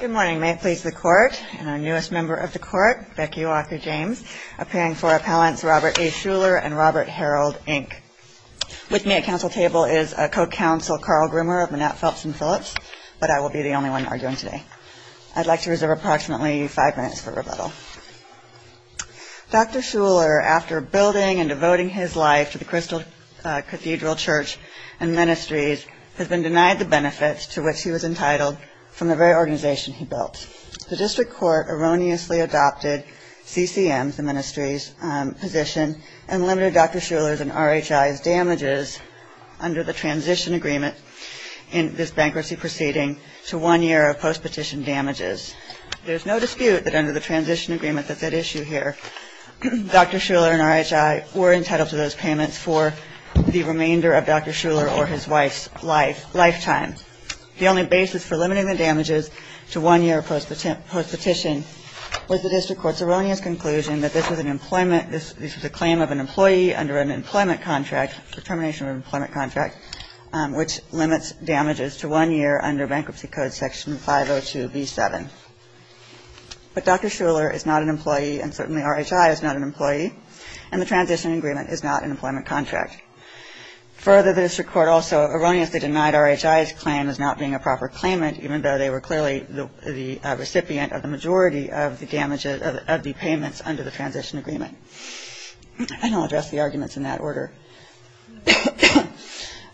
Good morning. May it please the Court and our newest member of the Court, Becky Walker-James, appearing for Appellants Robert A. Schuller and Robert Harold, Inc. With me at council table is a co-counsel Carl Grimmer of Manette, Phelps & Phillips, but I will be the only one arguing today. I'd like to reserve approximately five minutes for rebuttal. Dr. Schuller, after building and devoting his life to the Crystal Cathedral Church and Ministries, has been denied the benefits to which he was entitled from the very organization he built. The district court erroneously adopted CCM, the ministry's position, and limited Dr. Schuller's and RHI's damages under the transition agreement in this bankruptcy proceeding to one year of post-petition damages. There is no dispute that under the transition agreement that's at issue here, Dr. Schuller and RHI were entitled to those payments for the remainder of Dr. Schuller or his wife's lifetime. The only basis for limiting the damages to one year of post-petition was the district court's erroneous conclusion that this was an employment, this was a claim of an employee under an employment contract, determination of an employment contract, which limits damages to one year under Bankruptcy Code Section 502B7. But Dr. Schuller is not an employee, and certainly RHI is not an employee, and the transition agreement is not an employment contract. Further, the district court also erroneously denied RHI's claim as not being a proper claimant, even though they were clearly the recipient of the majority of the damages of the payments under the transition agreement. And I'll address the arguments in that order.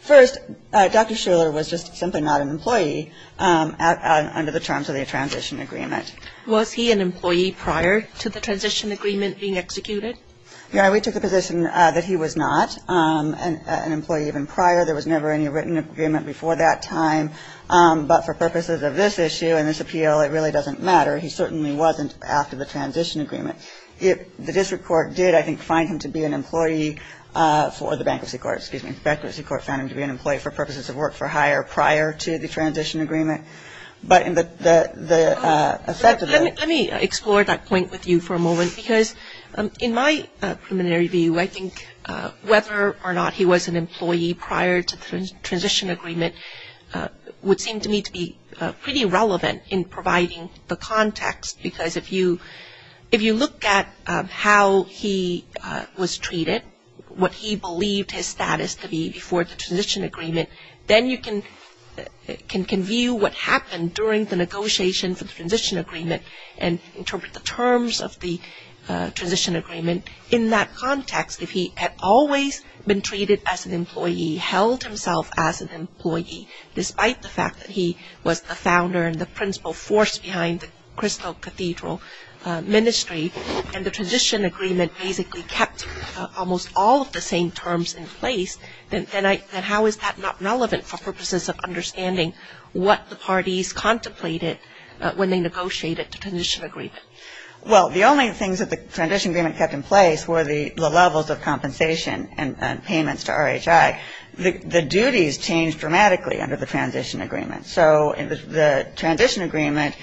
First, Dr. Schuller was just simply not an employee under the terms of the transition agreement. Was he an employee prior to the transition agreement being executed? Yeah, we took the position that he was not an employee even prior. There was never any written agreement before that time. But for purposes of this issue and this appeal, it really doesn't matter. He certainly wasn't after the transition agreement. The district court did, I think, find him to be an employee for the bankruptcy court, excuse me. The bankruptcy court found him to be an employee for purposes of work for hire prior to the transition agreement. But in the effect of that. Let me explore that point with you for a moment, because in my preliminary view, I think whether or not he was an employee prior to the transition agreement would seem to me to be pretty relevant in providing the context, because if you look at how he was treated, what he believed his status to be before the transition agreement, then you can view what happened during the negotiation for the transition agreement and interpret the terms of the transition agreement in that context. If he had always been treated as an employee, held himself as an employee, despite the fact that he was the founder and the principal force behind the Crystal Cathedral Ministry, and the transition agreement basically kept almost all of the same terms in place, then how is that not relevant for purposes of understanding what the parties contemplated when they negotiated the transition agreement? Well, the only things that the transition agreement kept in place were the levels of compensation and payments to RHI. The duties changed dramatically under the transition agreement. So the transition agreement,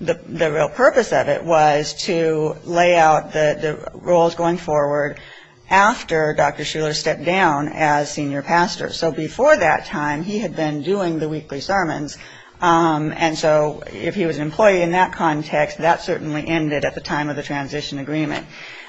the real purpose of it was to lay out the roles going forward after Dr. Shuler stepped down as senior pastor. So before that time, he had been doing the weekly sermons, and so if he was an employee in that context, that certainly ended at the time of the transition agreement.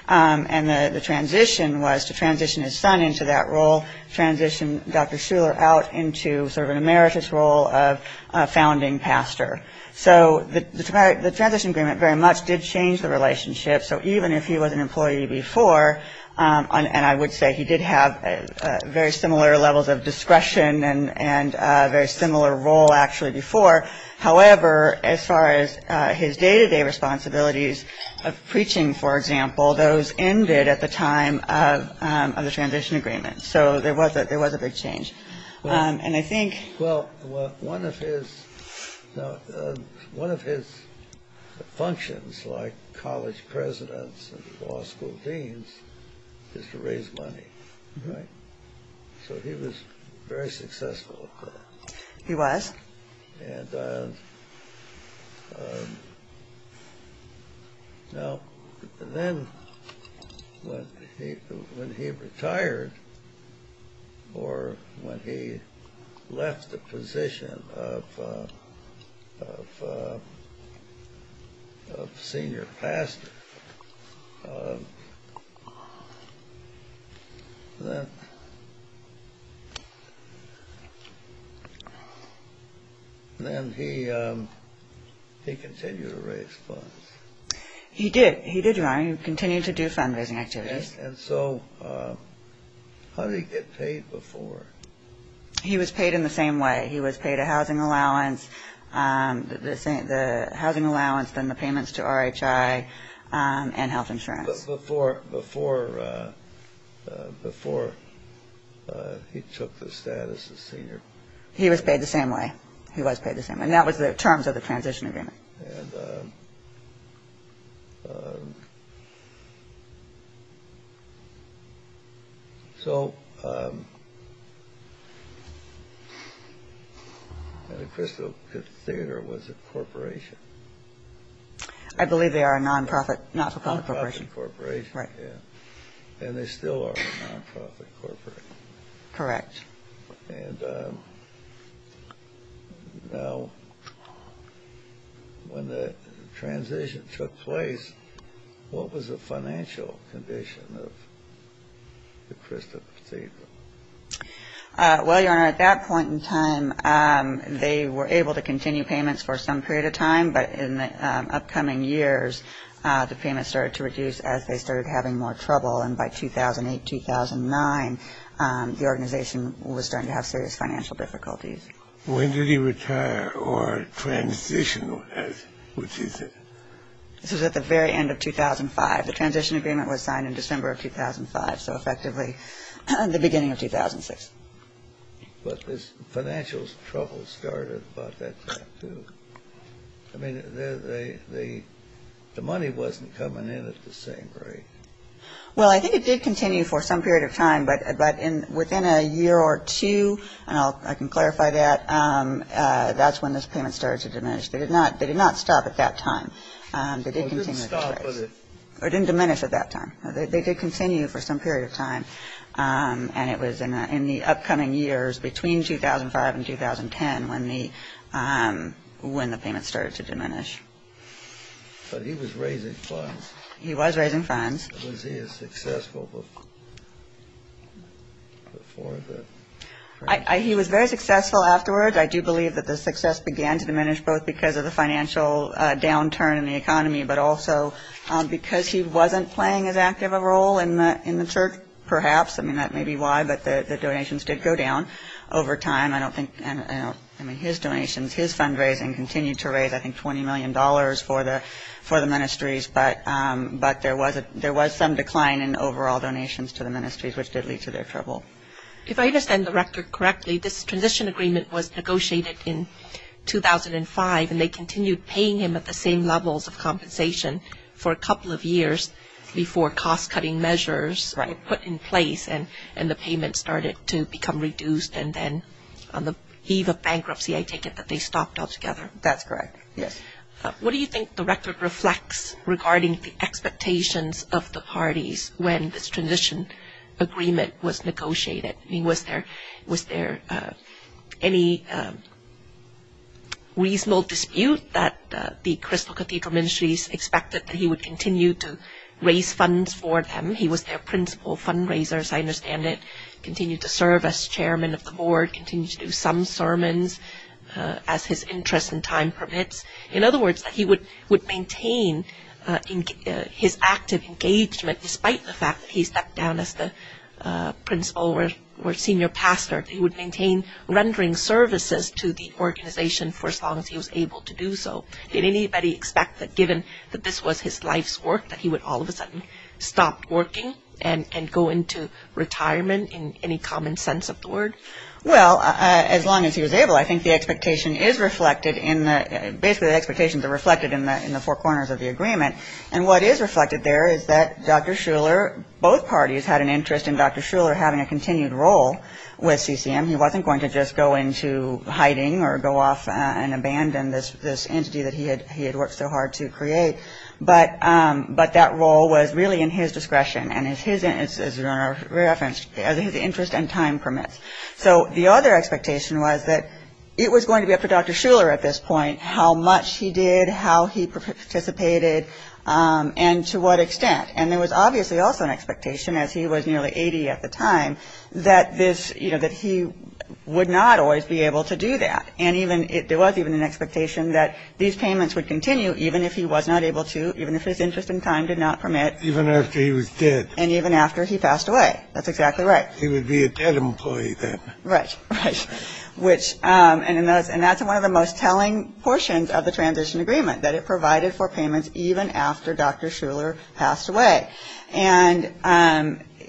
And the transition was to transition his son into that role, transition Dr. Shuler out into sort of an emeritus role of founding pastor. So the transition agreement very much did change the relationship. So even if he was an employee before, and I would say he did have very similar levels of discretion and a very similar role actually before. However, as far as his day-to-day responsibilities of preaching, for example, those ended at the time of the transition agreement. So there was a big change. And I think one of his functions, like college presidents and law school deans, is to raise money. So he was very successful at that. He was. And now then when he retired or when he left the position of senior pastor, then he continued to raise funds. He did. He did, Your Honor. He continued to do fundraising activities. And so how did he get paid before? He was paid in the same way. He was paid a housing allowance, the housing allowance, then the payments to RHI and health insurance. Before he took the status of senior. He was paid the same way. He was paid the same way. And that was the terms of the transition agreement. And so the Crystal Cathedral was a corporation. I believe they are a non-profit, not-for-profit corporation. Non-profit corporation. Right. And they still are a non-profit corporation. Correct. And now when the transition took place, what was the financial condition of the Crystal Cathedral? Well, Your Honor, at that point in time, they were able to continue payments for some period of time. But in the upcoming years, the payments started to reduce as they started having more trouble. And by 2008, 2009, the organization was starting to have serious financial difficulties. When did he retire or transition? This was at the very end of 2005. The transition agreement was signed in December of 2005, so effectively the beginning of 2006. But this financial trouble started about that time, too. I mean, the money wasn't coming in at the same rate. Well, I think it did continue for some period of time. But within a year or two, and I can clarify that, that's when those payments started to diminish. They did not stop at that time. They didn't diminish at that time. They did continue for some period of time. And it was in the upcoming years between 2005 and 2010 when the payments started to diminish. But he was raising funds. He was raising funds. Was he as successful before the crisis? He was very successful afterwards. I do believe that the success began to diminish both because of the financial downturn in the economy, but also because he wasn't playing as active a role in the church, perhaps. I mean, that may be why, but the donations did go down over time. I don't think – I mean, his donations, his fundraising continued to raise, I think, $20 million for the ministries. But there was some decline in overall donations to the ministries, which did lead to their trouble. If I understand the record correctly, this transition agreement was negotiated in 2005, and they continued paying him at the same levels of compensation for a couple of years before cost-cutting measures were put in place and the payments started to become reduced. And then on the eve of bankruptcy, I take it that they stopped altogether. That's correct, yes. What do you think the record reflects regarding the expectations of the parties when this transition agreement was negotiated? I mean, was there any reasonable dispute that the Crystal Cathedral Ministries expected that he would continue to raise funds for them? He was their principal fundraiser, as I understand it, continued to serve as chairman of the board, continued to do some sermons as his interest in time permits. In other words, that he would maintain his active engagement despite the fact that he stepped down as the principal or senior pastor. He would maintain rendering services to the organization for as long as he was able to do so. Did anybody expect that given that this was his life's work that he would all of a sudden stop working and go into retirement in any common sense of the word? Well, as long as he was able, I think the expectations are reflected in the four corners of the agreement. And what is reflected there is that Dr. Shuler, both parties had an interest in Dr. Shuler having a continued role with CCM. He wasn't going to just go into hiding or go off and abandon this entity that he had worked so hard to create. But that role was really in his discretion and is referenced as his interest in time permits. So the other expectation was that it was going to be up to Dr. Shuler at this point how much he did, how he participated, and to what extent. And there was obviously also an expectation, as he was nearly 80 at the time, that he would not always be able to do that. And there was even an expectation that these payments would continue even if he was not able to, even if his interest in time did not permit. Even after he was dead. And even after he passed away. That's exactly right. He would be a dead employee then. Right. Right. And that's one of the most telling portions of the transition agreement, that it provided for payments even after Dr. Shuler passed away. And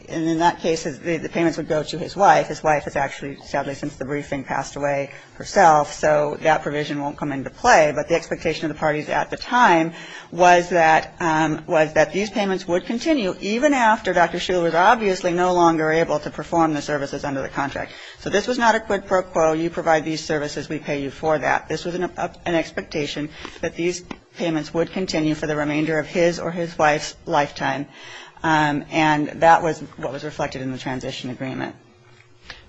in that case, the payments would go to his wife. His wife has actually, sadly, since the briefing, passed away herself. So that provision won't come into play. But the expectation of the parties at the time was that these payments would continue, even after Dr. Shuler was obviously no longer able to perform the services under the contract. So this was not a quid pro quo, you provide these services, we pay you for that. This was an expectation that these payments would continue for the remainder of his or his wife's lifetime. And that was what was reflected in the transition agreement.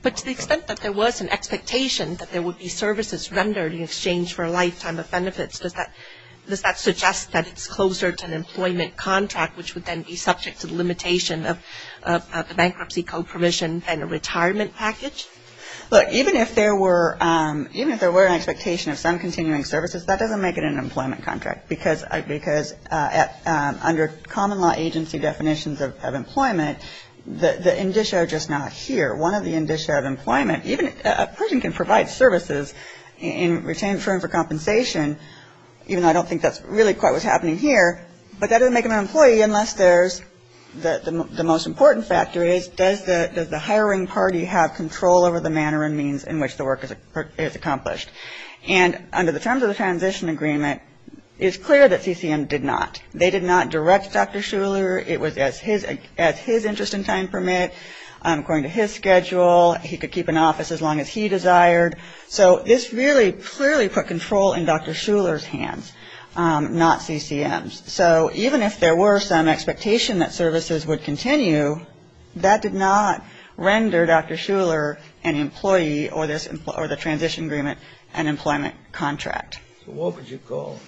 But to the extent that there was an expectation that there would be services rendered in exchange for a lifetime of benefits, does that suggest that it's closer to an employment contract, which would then be subject to the limitation of the bankruptcy co-provision and a retirement package? Look, even if there were an expectation of some continuing services, that doesn't make it an employment contract. Because under common law agency definitions of employment, the indicia are just not here. One of the indicia of employment, even a person can provide services in return for compensation, even though I don't think that's really quite what's happening here, but that doesn't make them an employee unless there's the most important factor is, does the hiring party have control over the manner and means in which the work is accomplished? And under the terms of the transition agreement, it's clear that CCM did not. They did not direct Dr. Shuler. It was as his interest in time permit, according to his schedule. He could keep an office as long as he desired. So this really clearly put control in Dr. Shuler's hands, not CCM's. So even if there were some expectation that services would continue, that did not render Dr. Shuler an employee or the transition agreement an employment contract. So what would you call it?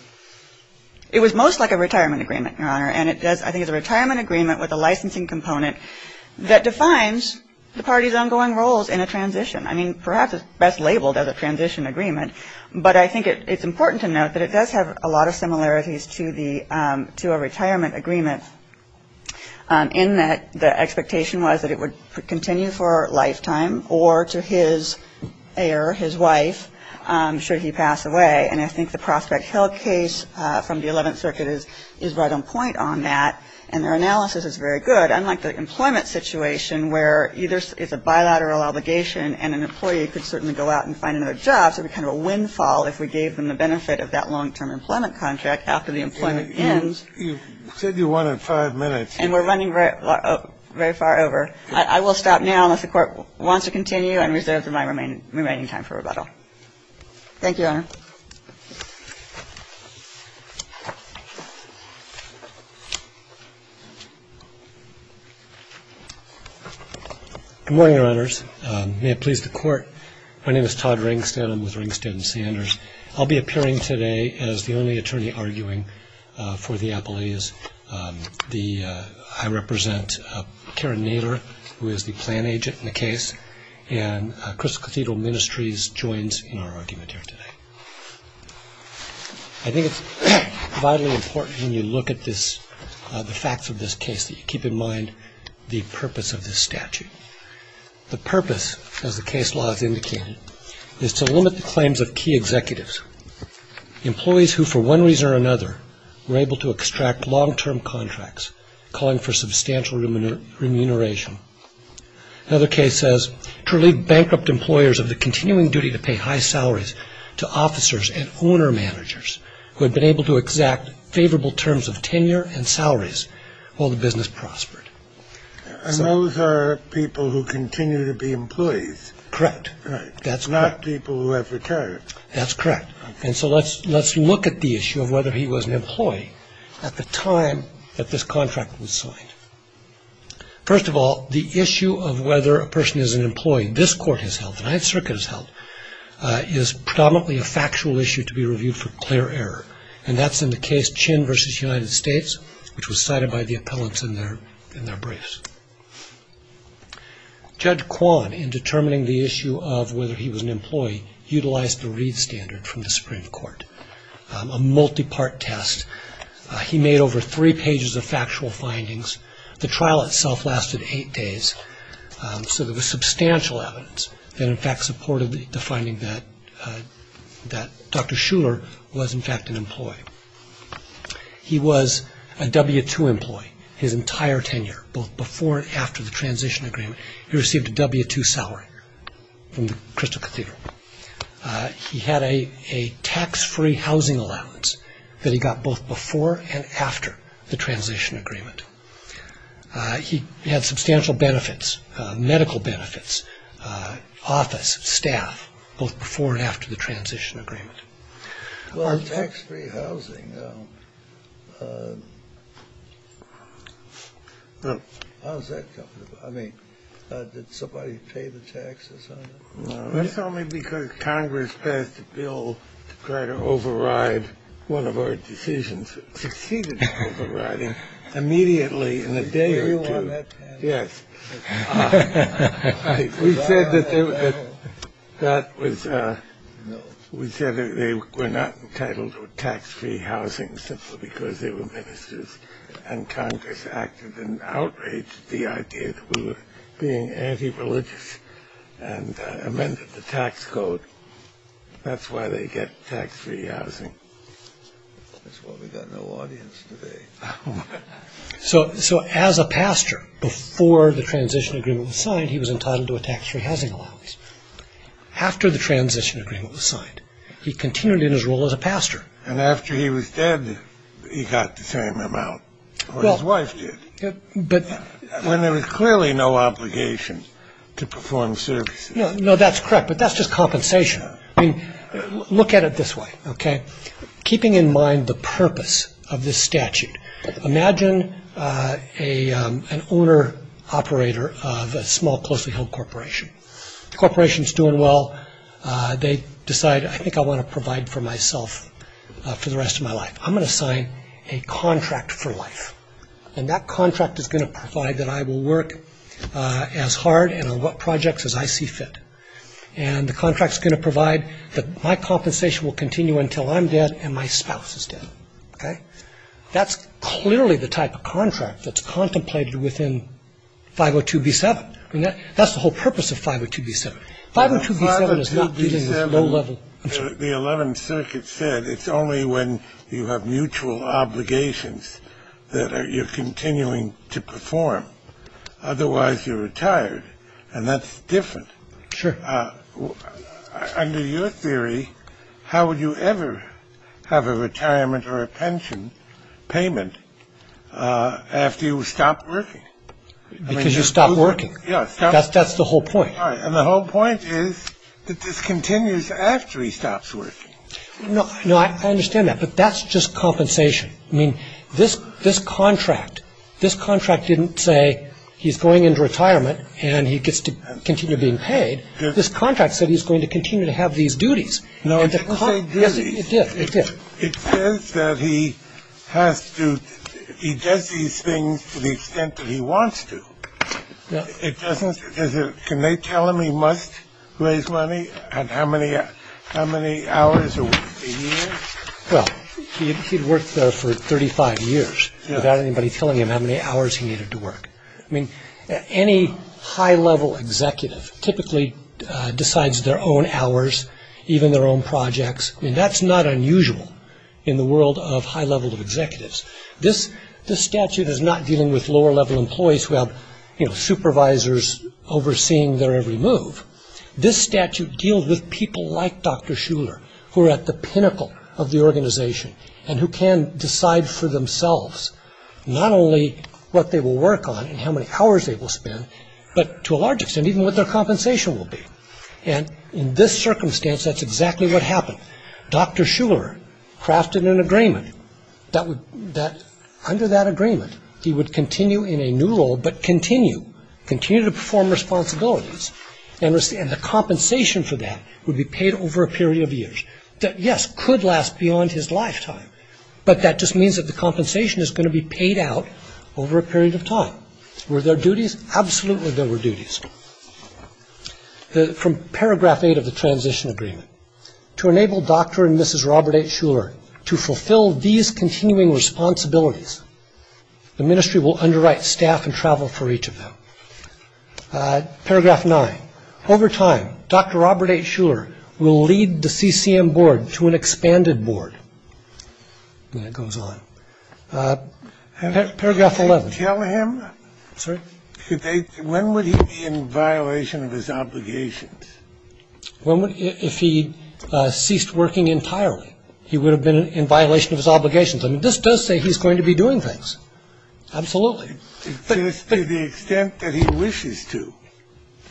It was most like a retirement agreement, Your Honor, and I think it's a retirement agreement with a licensing component that defines the party's ongoing roles in a transition. I mean, perhaps it's best labeled as a transition agreement, but I think it's important to note that it does have a lot of similarities to a retirement agreement in that the expectation was that it would continue for a lifetime or to his heir, his wife, should he pass away. And I think the Prospect Hill case from the 11th Circuit is right on point on that, and their analysis is very good. Unlike the employment situation where either it's a bilateral obligation and an employee could certainly go out and find another job, so it would be kind of a windfall if we gave them the benefit of that long-term employment contract after the employment ends. You said you wanted five minutes. And we're running very far over. I will stop now unless the Court wants to continue and reserve the remaining time for rebuttal. Thank you, Your Honor. Good morning, Your Honors. May it please the Court, my name is Todd Ringstan. I'm with Ringstan and Sanders. I'll be appearing today as the only attorney arguing for the appellees. I represent Karen Naylor, who is the plan agent in the case, and Crystal Cathedral Ministries joins in our argument here today. I think it's vitally important when you look at the facts of this case that you keep in mind the purpose of this statute. The purpose, as the case law has indicated, is to limit the claims of key executives, employees who for one reason or another were able to extract long-term contracts, calling for substantial remuneration. Another case says to relieve bankrupt employers of the continuing duty to pay high salaries to officers and owner-managers who had been able to exact favorable terms of tenure and salaries while the business prospered. And those are people who continue to be employees. Correct. That's correct. Not people who have retired. That's correct. And so let's look at the issue of whether he was an employee at the time that this contract was signed. First of all, the issue of whether a person is an employee, this Court has held, the Ninth Circuit has held, is predominantly a factual issue to be reviewed for clear error, and that's in the case Chin v. United States, which was cited by the appellants in their briefs. Judge Kwan, in determining the issue of whether he was an employee, utilized the Reed Standard from the Supreme Court, a multi-part test. He made over three pages of factual findings. The trial itself lasted eight days, so there was substantial evidence that, in fact, He was a W-2 employee his entire tenure, both before and after the transition agreement. He received a W-2 salary from the Crystal Cathedral. He had a tax-free housing allowance that he got both before and after the transition agreement. He had substantial benefits, medical benefits, office, staff, both before and after the transition agreement. Well, tax-free housing, how's that coming about? I mean, did somebody pay the taxes on it? That's only because Congress passed a bill to try to override one of our decisions. It succeeded in overriding immediately in a day or two. Were you on that panel? Yes. We said that they were not entitled to tax-free housing simply because they were ministers, and Congress acted in outrage at the idea that we were being anti-religious and amended the tax code. That's why they get tax-free housing. That's why we've got no audience today. So as a pastor, before the transition agreement was signed, he was entitled to a tax-free housing allowance. After the transition agreement was signed, he continued in his role as a pastor. And after he was dead, he got the same amount, or his wife did, when there was clearly no obligation to perform services. No, that's correct, but that's just compensation. I mean, look at it this way, okay? Imagine an owner-operator of a small, closely-held corporation. The corporation is doing well. They decide, I think I want to provide for myself for the rest of my life. I'm going to sign a contract for life, and that contract is going to provide that I will work as hard and on what projects as I see fit. And the contract is going to provide that my compensation will continue until I'm dead and my spouse is dead, okay? That's clearly the type of contract that's contemplated within 502b-7. I mean, that's the whole purpose of 502b-7. 502b-7 is not dealing with low-level- The 11th Circuit said it's only when you have mutual obligations that you're continuing to perform. Otherwise, you're retired, and that's different. Sure. Under your theory, how would you ever have a retirement or a pension payment after you stopped working? Because you stopped working. Yes. That's the whole point. And the whole point is that this continues after he stops working. No, I understand that, but that's just compensation. I mean, this contract didn't say he's going into retirement and he gets to continue being paid. This contract said he's going to continue to have these duties. No, it didn't say duties. Yes, it did, it did. It says that he has to- he does these things to the extent that he wants to. It doesn't- can they tell him he must raise money and how many hours a year? Well, he'd worked for 35 years without anybody telling him how many hours he needed to work. I mean, any high-level executive typically decides their own hours, even their own projects. I mean, that's not unusual in the world of high-level executives. This statute is not dealing with lower-level employees who have supervisors overseeing their every move. This statute deals with people like Dr. Shuler who are at the pinnacle of the organization and who can decide for themselves not only what they will work on and how many hours they will spend, but to a large extent even what their compensation will be. And in this circumstance, that's exactly what happened. Dr. Shuler crafted an agreement that under that agreement he would continue in a new role, but continue, continue to perform responsibilities. And the compensation for that would be paid over a period of years that, yes, could last beyond his lifetime, but that just means that the compensation is going to be paid out over a period of time. Were there duties? Absolutely there were duties. From paragraph 8 of the transition agreement, to enable Dr. and Mrs. Robert H. Shuler to fulfill these continuing responsibilities, the ministry will underwrite staff and travel for each of them. Paragraph 9. Over time, Dr. Robert H. Shuler will lead the CCM board to an expanded board. And it goes on. Paragraph 11. Tell him when would he be in violation of his obligations? If he ceased working entirely, he would have been in violation of his obligations. I mean, this does say he's going to be doing things. Absolutely. To the extent that he wishes to.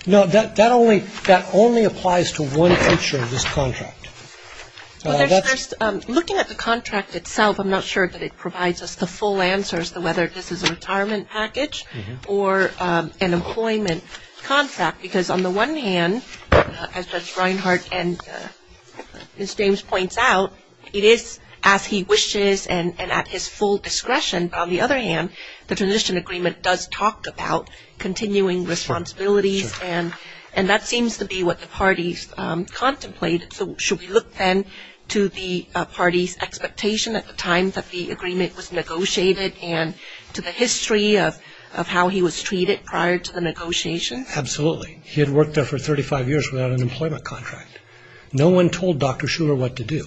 No, that only applies to one feature of this contract. Looking at the contract itself, I'm not sure that it provides us the full answers to whether this is a retirement package or an employment contract, because on the one hand, as Judge Reinhart and Ms. James points out, it is as he wishes and at his full discretion. And on the other hand, the transition agreement does talk about continuing responsibilities, and that seems to be what the parties contemplated. So should we look then to the parties' expectation at the time that the agreement was negotiated and to the history of how he was treated prior to the negotiations? Absolutely. He had worked there for 35 years without an employment contract. No one told Dr. Shuler what to do.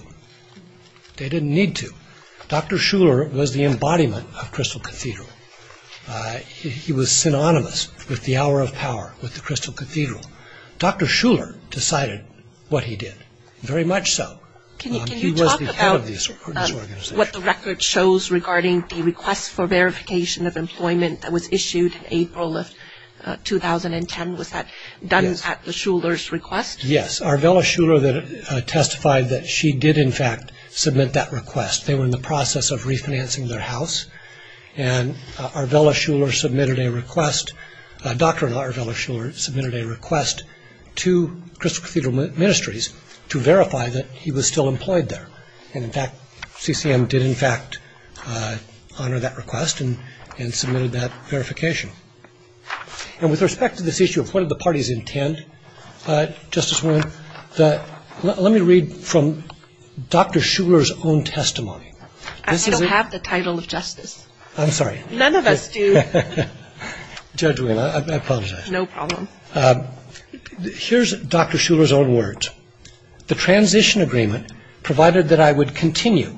They didn't need to. Dr. Shuler was the embodiment of Crystal Cathedral. He was synonymous with the hour of power, with the Crystal Cathedral. Dr. Shuler decided what he did. Very much so. Can you talk about what the record shows regarding the request for verification of employment that was issued in April of 2010? Was that done at the Shuler's request? Yes. It was Arvella Shuler that testified that she did, in fact, submit that request. They were in the process of refinancing their house, and Dr. Arvella Shuler submitted a request to Crystal Cathedral Ministries to verify that he was still employed there. And, in fact, CCM did, in fact, honor that request and submitted that verification. And with respect to this issue of what did the parties intend, Justice Wynne, let me read from Dr. Shuler's own testimony. I don't have the title of justice. I'm sorry. None of us do. Judge Wynne, I apologize. No problem. Here's Dr. Shuler's own words. The transition agreement provided that I would continue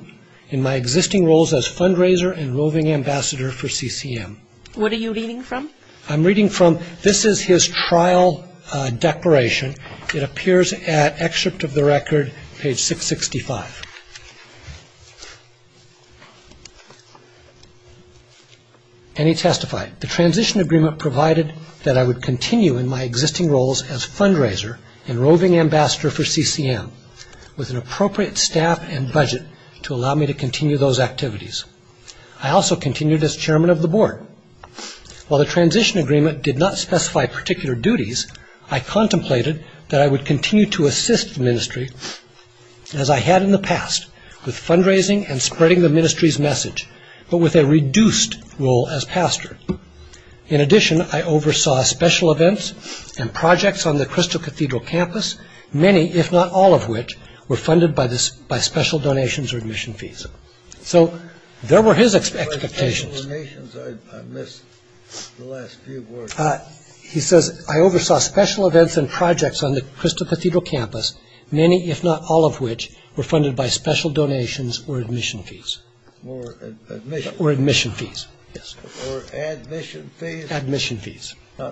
in my existing roles as fundraiser and roving ambassador for CCM. What are you reading from? I'm reading from this is his trial declaration. It appears at excerpt of the record, page 665. And he testified, the transition agreement provided that I would continue in my existing roles as fundraiser and roving ambassador for CCM with an appropriate staff and budget to allow me to continue those activities. I also continued as chairman of the board. While the transition agreement did not specify particular duties, I contemplated that I would continue to assist the ministry, as I had in the past, with fundraising and spreading the ministry's message, but with a reduced role as pastor. In addition, I oversaw special events and projects on the Crystal Cathedral campus, many, if not all of which, were funded by special donations or admission fees. So there were his expectations. I missed the last few words. He says, I oversaw special events and projects on the Crystal Cathedral campus, many, if not all of which, were funded by special donations or admission fees. Or admission fees. Or admission fees. Admission fees. Not mission fees. No,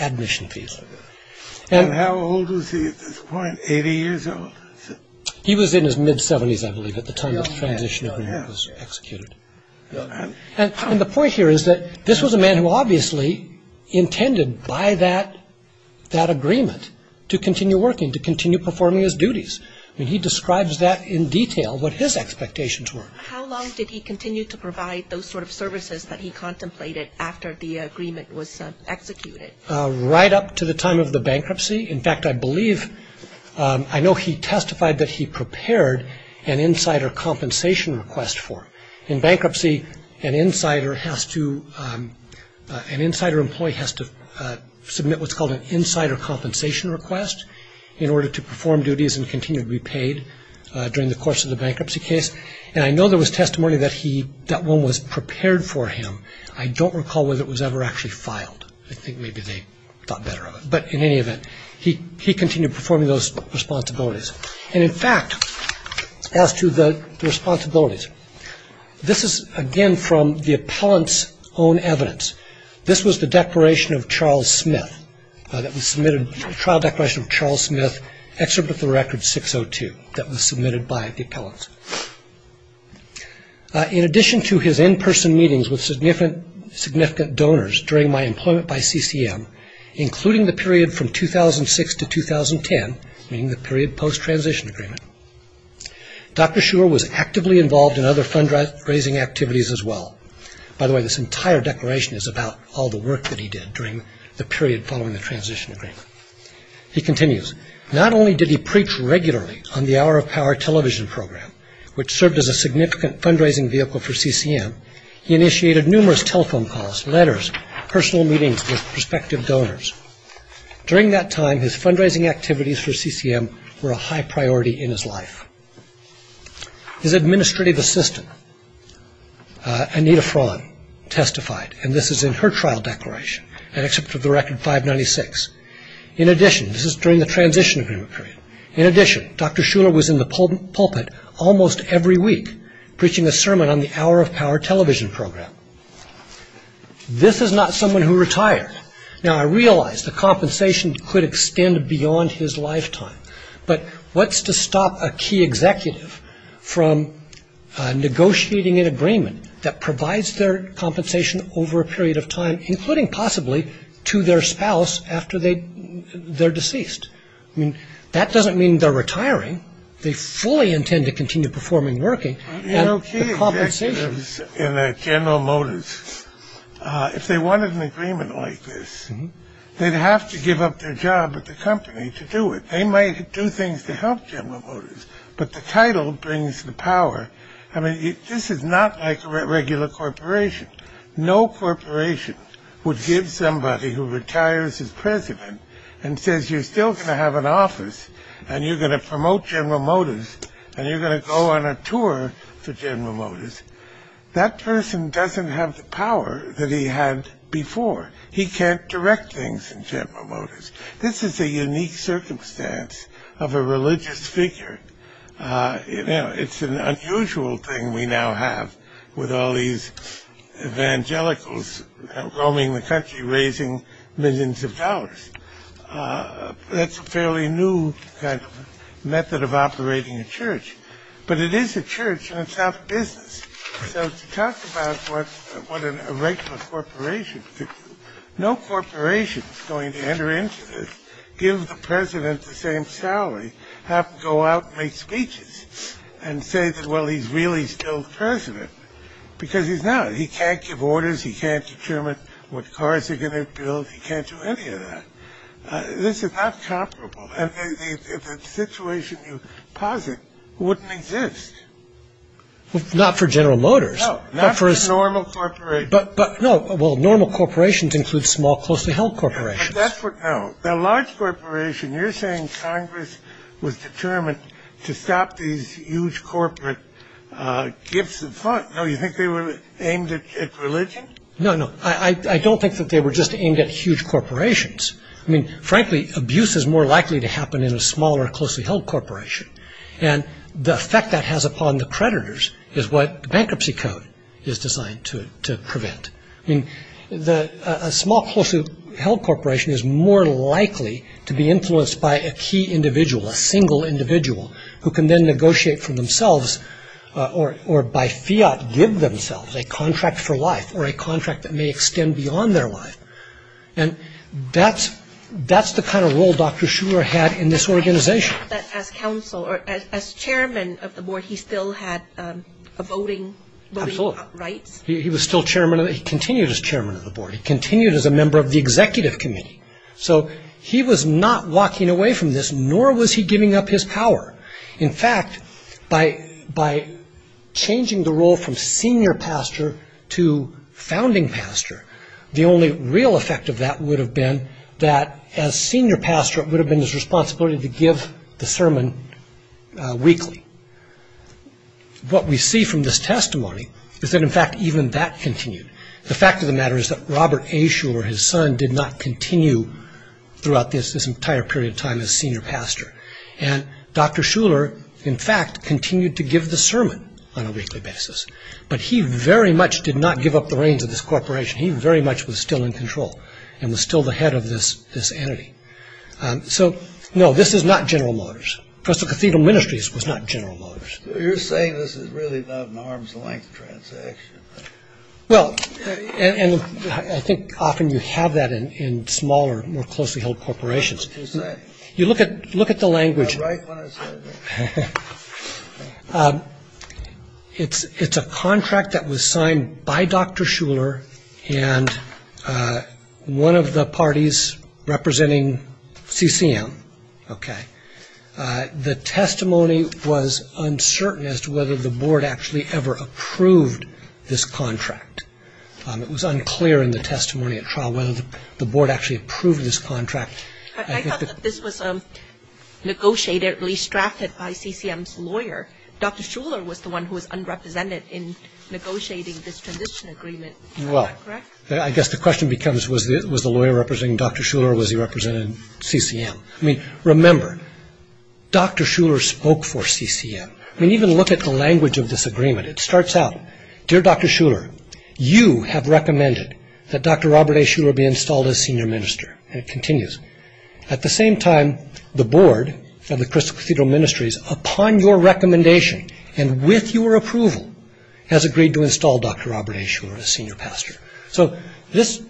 admission fees. And how old was he at this point, 80 years old? He was in his mid-70s, I believe, at the time the transition agreement was executed. And the point here is that this was a man who obviously intended, by that agreement, to continue working, to continue performing his duties. I mean, he describes that in detail, what his expectations were. How long did he continue to provide those sort of services that he contemplated after the agreement was executed? Right up to the time of the bankruptcy. In fact, I believe, I know he testified that he prepared an insider compensation request for him. In bankruptcy, an insider employee has to submit what's called an insider compensation request in order to perform duties and continue to be paid during the course of the bankruptcy case. And I know there was testimony that one was prepared for him. I don't recall whether it was ever actually filed. I think maybe they thought better of it. But in any event, he continued performing those responsibilities. And, in fact, as to the responsibilities, this is, again, from the appellant's own evidence. This was the declaration of Charles Smith that was submitted, the trial declaration of Charles Smith, Excerpt of the Record 602, that was submitted by the appellant. In addition to his in-person meetings with significant donors during my employment by CCM, including the period from 2006 to 2010, meaning the period post-transition agreement, Dr. Shurer was actively involved in other fundraising activities as well. By the way, this entire declaration is about all the work that he did during the period following the transition agreement. He continues, not only did he preach regularly on the Hour of Power television program, which served as a significant fundraising vehicle for CCM, he initiated numerous telephone calls, letters, personal meetings with prospective donors. During that time, his fundraising activities for CCM were a high priority in his life. His administrative assistant, Anita Fraun, testified, and this is in her trial declaration, an excerpt of the Record 596. In addition, this is during the transition agreement period, in addition, Dr. Shurer was in the pulpit almost every week, preaching a sermon on the Hour of Power television program. This is not someone who retired. Now, I realize the compensation could extend beyond his lifetime, but what's to stop a key executive from negotiating an agreement that provides their compensation over a period of time, including possibly to their spouse after they're deceased? I mean, that doesn't mean they're retiring. They fully intend to continue performing working. You know, key executives in General Motors, if they wanted an agreement like this, they'd have to give up their job at the company to do it. They might do things to help General Motors, but the title brings the power. I mean, this is not like a regular corporation. No corporation would give somebody who retires as president and says you're still going to have an office and you're going to promote General Motors and you're going to go on a tour for General Motors. That person doesn't have the power that he had before. He can't direct things in General Motors. This is a unique circumstance of a religious figure. You know, it's an unusual thing we now have with all these evangelicals roaming the country, raising millions of dollars. That's a fairly new kind of method of operating a church. But it is a church and it's out of business. So to talk about what a regular corporation could do, no corporation is going to enter into this, give the president the same salary, have him go out and make speeches and say that, well, he's really still the president, because he's not. He can't give orders. He can't determine what cars they're going to build. He can't do any of that. This is not comparable. And the situation you posit wouldn't exist. Not for General Motors. No, not for normal corporations. But, no, well, normal corporations include small, closely held corporations. That's what, no. The large corporation, you're saying Congress was determined to stop these huge corporate gifts and funds. No, you think they were aimed at religion? No, no. I don't think that they were just aimed at huge corporations. I mean, frankly, abuse is more likely to happen in a smaller, closely held corporation. And the effect that has upon the creditors is what bankruptcy code is designed to prevent. I mean, a small, closely held corporation is more likely to be influenced by a key individual, a single individual, who can then negotiate for themselves, or by fiat, give themselves a contract for life or a contract that may extend beyond their life. And that's the kind of role Dr. Schurer had in this organization. But as chairman of the board, he still had voting rights? Absolutely. He continued as chairman of the board. He continued as a member of the executive committee. So he was not walking away from this, nor was he giving up his power. In fact, by changing the role from senior pastor to founding pastor, the only real effect of that would have been that, as senior pastor, it would have been his responsibility to give the sermon weekly. What we see from this testimony is that, in fact, even that continued. The fact of the matter is that Robert A. Schurer, his son, did not continue throughout this entire period of time as senior pastor. And Dr. Schurer, in fact, continued to give the sermon on a weekly basis. But he very much did not give up the reins of this corporation. He very much was still in control and was still the head of this entity. So, no, this is not General Motors. Cathedral Ministries was not General Motors. You're saying this is really not an arm's-length transaction. Well, and I think often you have that in smaller, more closely held corporations. You look at the language. It's a contract that was signed by Dr. Schurer and one of the parties representing CCM. The testimony was uncertain as to whether the board actually ever approved this contract. It was unclear in the testimony at trial whether the board actually approved this contract. I thought that this was negotiated, at least drafted, by CCM's lawyer. Dr. Schurer was the one who was unrepresented in negotiating this transition agreement. Well, I guess the question becomes, was the lawyer representing Dr. Schurer or was he representing CCM? I mean, remember, Dr. Schurer spoke for CCM. I mean, even look at the language of this agreement. It starts out, Dear Dr. Schurer, you have recommended that Dr. Robert A. Schurer be installed as senior minister, and it continues. At the same time, the board of the Crystal Cathedral Ministries, upon your recommendation and with your approval, has agreed to install Dr. Robert A. Schurer as senior pastor. So this,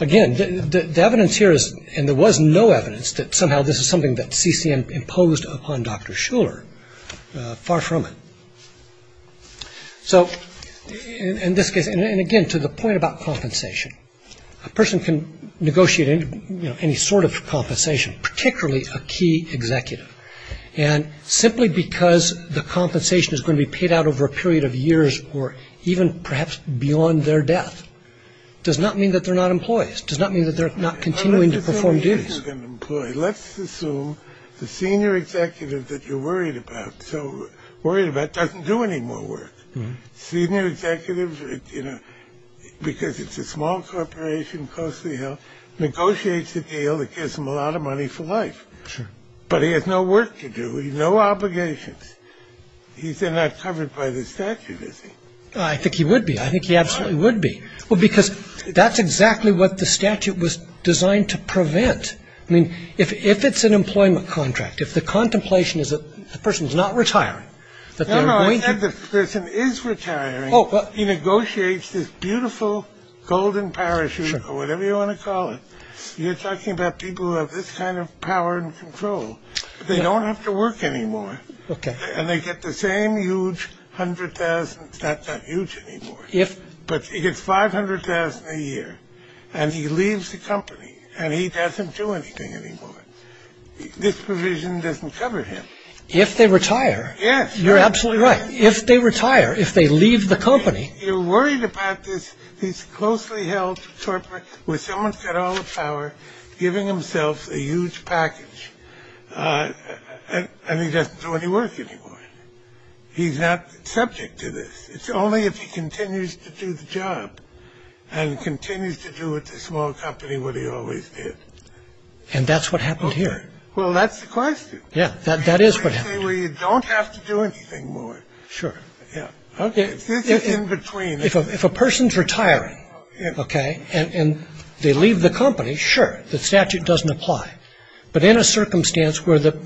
again, the evidence here is, and there was no evidence, that somehow this is something that CCM imposed upon Dr. Schurer. Far from it. So in this case, and again, to the point about compensation, a person can negotiate any sort of compensation, particularly a key executive, and simply because the compensation is going to be paid out over a period of years or even perhaps beyond their death, does not mean that they're not employees, does not mean that they're not continuing to perform duties. Let's assume the senior executive that you're worried about doesn't do any more work. Senior executives, because it's a small corporation, costly health, negotiates a deal that gives them a lot of money for life. Sure. But he has no work to do, no obligations. He's not covered by the statute, is he? I think he would be. I think he absolutely would be. Why? Well, because that's exactly what the statute was designed to prevent. I mean, if it's an employment contract, if the contemplation is that the person's not retiring, that they're going to- No, no, I said the person is retiring. He negotiates this beautiful golden parachute, or whatever you want to call it. You're talking about people who have this kind of power and control. They don't have to work anymore. Okay. And they get the same huge $100,000. It's not that huge anymore. But he gets $500,000 a year, and he leaves the company, and he doesn't do anything anymore. This provision doesn't cover him. If they retire. Yes. You're absolutely right. If they retire, if they leave the company- You're worried about this. where someone's got all the power, giving himself a huge package, and he doesn't do any work anymore. He's not subject to this. It's only if he continues to do the job and continues to do with the small company what he always did. And that's what happened here. Well, that's the question. Yeah. That is what happened. Where you don't have to do anything more. Sure. Yeah. Okay. This is in between. If a person's retiring, okay, and they leave the company, sure, the statute doesn't apply. But in a circumstance where the-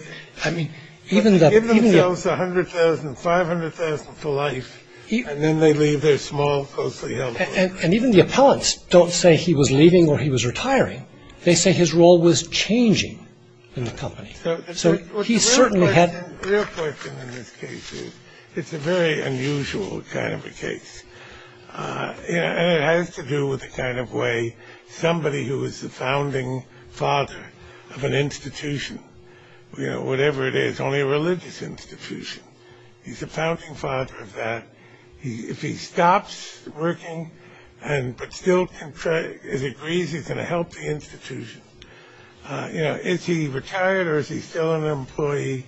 Give themselves $100,000, $500,000 for life, and then they leave their small, closely held company. And even the appellants don't say he was leaving or he was retiring. They say his role was changing in the company. So he certainly had- The real question in this case is it's a very unusual kind of a case. And it has to do with the kind of way somebody who is the founding father of an institution, whatever it is, only a religious institution, he's the founding father of that, if he stops working but still agrees he's going to help the institution, is he retired or is he still an employee?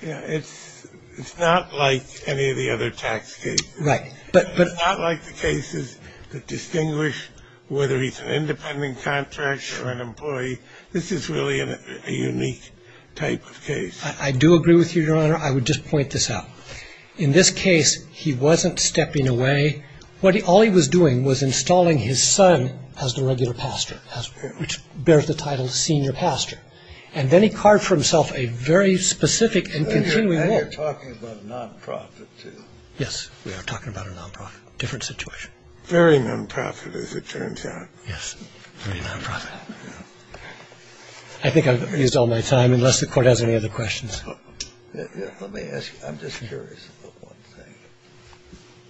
It's not like any of the other tax cases. Right. It's not like the cases that distinguish whether he's an independent contractor or an employee. This is really a unique type of case. I do agree with you, Your Honor. I would just point this out. In this case, he wasn't stepping away. All he was doing was installing his son as the regular pastor, which bears the title senior pastor. And then he carved for himself a very specific and continuing role. And you're talking about non-profit, too. Yes, we are talking about a non-profit, different situation. Very non-profit, as it turns out. Yes, very non-profit. I think I've used all my time, unless the Court has any other questions. Let me ask you, I'm just curious about one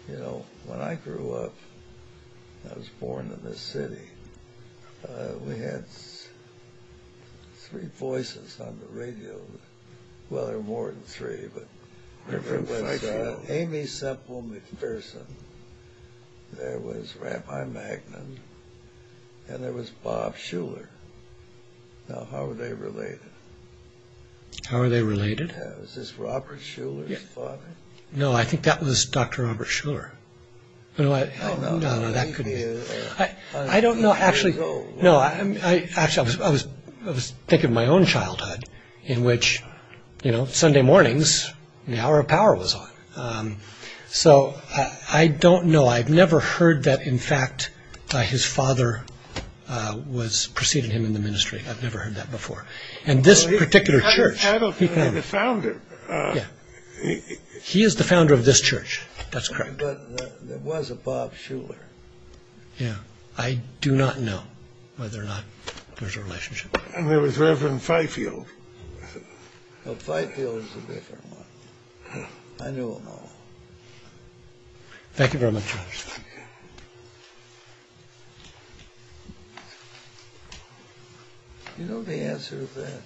thing. You know, when I grew up, I was born in this city. We had three voices on the radio. Well, there were more than three, but there was Amy Semple McPherson. There was Rabbi Magnin. And there was Bob Shuler. Now, how are they related? How are they related? Is this Robert Shuler's father? No, I think that was Dr. Robert Shuler. No, that couldn't be. I don't know, actually. No, actually, I was thinking of my own childhood in which, you know, Sunday mornings, the Hour of Power was on. So I don't know. I've never heard that, in fact, his father preceded him in the ministry. I've never heard that before. And this particular church. I don't know the founder. Yeah. He is the founder of this church. That's correct. But there was a Bob Shuler. Yeah. I do not know whether or not there's a relationship. And there was Reverend Fifield. Well, Fifield is a different one. I don't know. Thank you very much, Your Honor. Do you know the answer to that?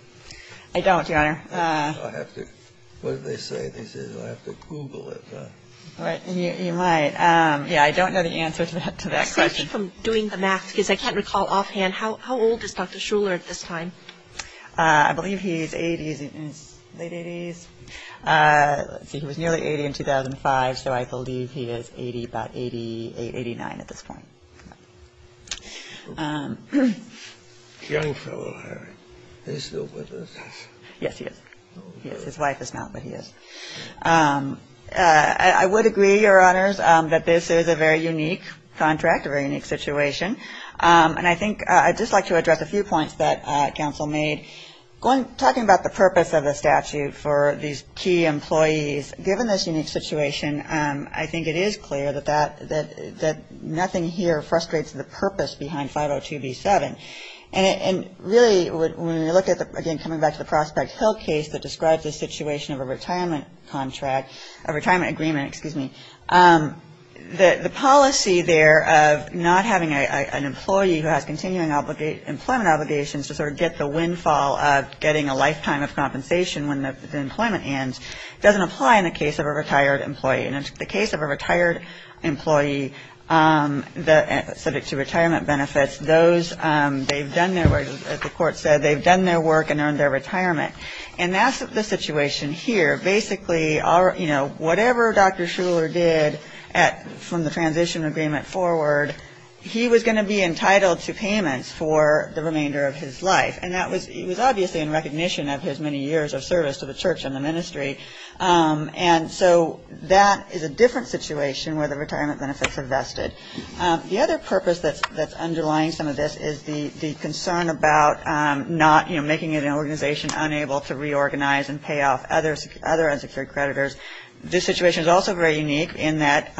I don't, Your Honor. I'll have to. What did they say? They said I'll have to Google it. Right. You might. Yeah, I don't know the answer to that question. I'm safe from doing the math because I can't recall offhand. How old is Dr. Shuler at this time? I believe he's 80. He's in his late 80s. Let's see. He was nearly 80 in 2005. So I believe he is 80, about 88, 89 at this point. Young fellow, Harry. Is he still with us? Yes, he is. He is. His wife is not, but he is. I would agree, Your Honors, that this is a very unique contract, a very unique situation. And I think I'd just like to address a few points that counsel made. Talking about the purpose of the statute for these key employees, given this unique situation, I think it is clear that nothing here frustrates the purpose behind 502B7. And really, when we look at the, again, coming back to the Prospect Hill case that describes the situation of a retirement contract, a retirement agreement, excuse me, the policy there of not having an employee who has continuing employment obligations to sort of get the windfall of getting a lifetime of compensation when the employment ends doesn't apply in the case of a retired employee. And in the case of a retired employee, subject to retirement benefits, those, they've done their work, as the Court said, they've done their work and earned their retirement. And that's the situation here. Basically, you know, whatever Dr. Shuler did from the transition agreement forward, he was going to be entitled to payments for the remainder of his life. And that was, he was obviously in recognition of his many years of service to the church and the ministry. And so that is a different situation where the retirement benefits are vested. The other purpose that's underlying some of this is the concern about not, you know, making an organization unable to reorganize and pay off other unsecured creditors. This situation is also very unique in that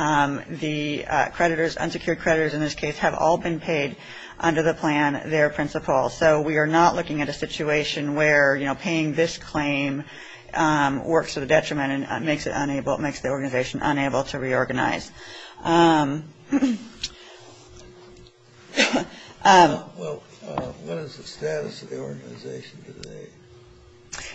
the creditors, unsecured creditors in this case, have all been paid under the plan, their principal. So we are not looking at a situation where, you know, paying this claim works to the detriment and makes it unable, makes the organization unable to reorganize. Well, what is the status of the organization today?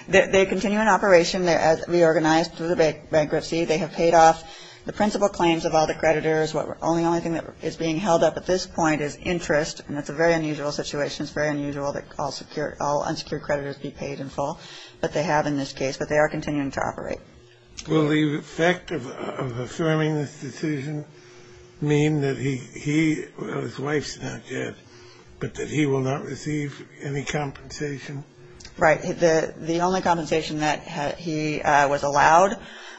They continue in operation. They're reorganized through the bankruptcy. They have paid off the principal claims of all the creditors. The only thing that is being held up at this point is interest. And that's a very unusual situation. It's very unusual that all unsecured creditors be paid in full. But they have in this case. But they are continuing to operate. Will the effect of affirming this decision mean that he, his wife's not dead, but that he will not receive any compensation? Right. The only compensation that he was allowed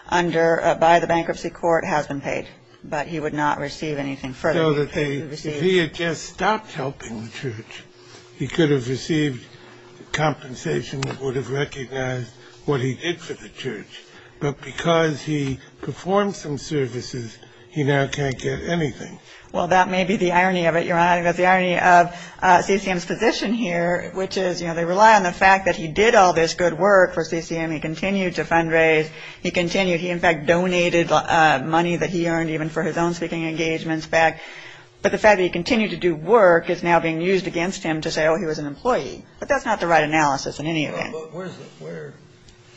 by the bankruptcy court has been paid. But he would not receive anything further. If he had just stopped helping the church, he could have received compensation that would have recognized what he did for the church. But because he performed some services, he now can't get anything. Well, that may be the irony of it, Your Honor. That's the irony of CCM's position here, which is, you know, they rely on the fact that he did all this good work for CCM. He continued to fundraise. He continued. He, in fact, donated money that he earned even for his own speaking engagements back. But the fact that he continued to do work is now being used against him to say, oh, he was an employee. But that's not the right analysis in any event. But where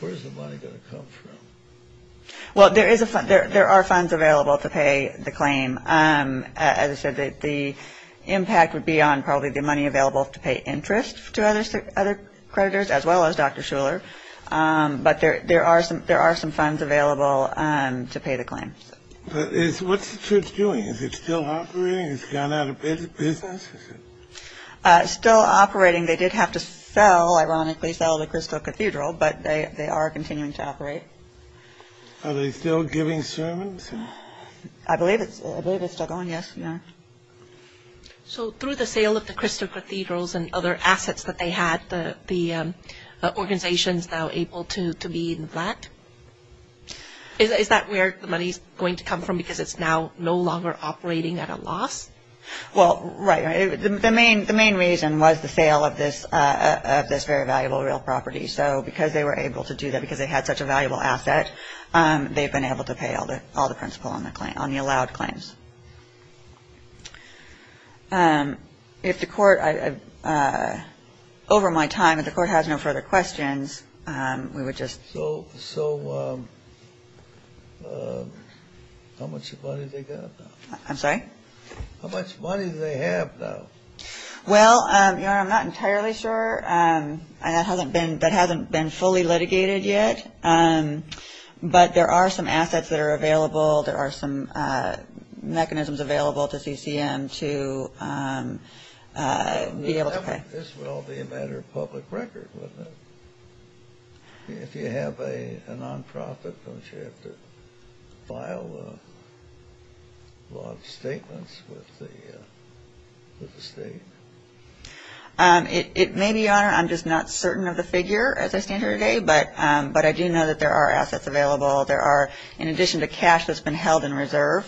is the money going to come from? Well, there are funds available to pay the claim. As I said, the impact would be on probably the money available to pay interest to other creditors as well as Dr. Shuler. But there are some funds available to pay the claim. But what's the church doing? Is it still operating? Has it gone out of business? It's still operating. They did have to sell, ironically, sell the Crystal Cathedral, but they are continuing to operate. Are they still giving sermons? I believe it's still going, yes, Your Honor. So through the sale of the Crystal Cathedrals and other assets that they had, the organization is now able to be in the flat? Is that where the money is going to come from because it's now no longer operating at a loss? Well, right. The main reason was the sale of this very valuable real property. So because they were able to do that, because they had such a valuable asset, they've been able to pay all the principal on the allowed claims. If the court, over my time, if the court has no further questions, we would just. So how much money do they have now? Well, Your Honor, I'm not entirely sure. That hasn't been fully litigated yet, but there are some assets that are available. There are some mechanisms available to CCM to be able to pay. This would all be a matter of public record, wouldn't it? If you have a nonprofit, don't you have to file a lot of statements with the state? It may be, Your Honor, I'm just not certain of the figure as I stand here today, but I do know that there are assets available. There are, in addition to cash that's been held in reserve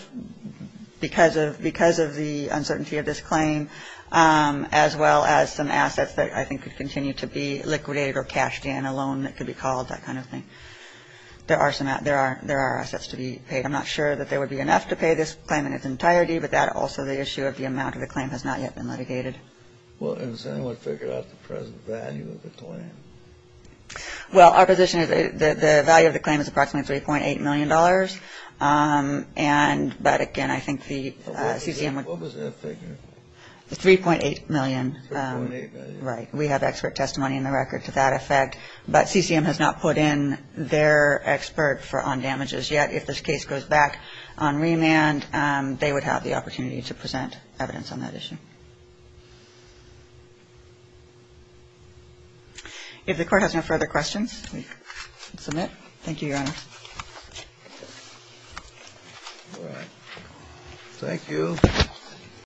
because of the uncertainty of this claim, as well as some assets that I think could continue to be liquidated or cashed in, a loan that could be called, that kind of thing. There are assets to be paid. I'm not sure that there would be enough to pay this claim in its entirety, but that also the issue of the amount of the claim has not yet been litigated. Well, has anyone figured out the present value of the claim? Well, our position is that the value of the claim is approximately $3.8 million. But, again, I think the CCM would... What was that figure? $3.8 million. $3.8 million. Right. We have expert testimony in the record to that effect. But CCM has not put in their expert on damages yet. If this case goes back on remand, they would have the opportunity to present evidence on that issue. If the Court has no further questions, we can submit. Thank you, Your Honor. Thank you.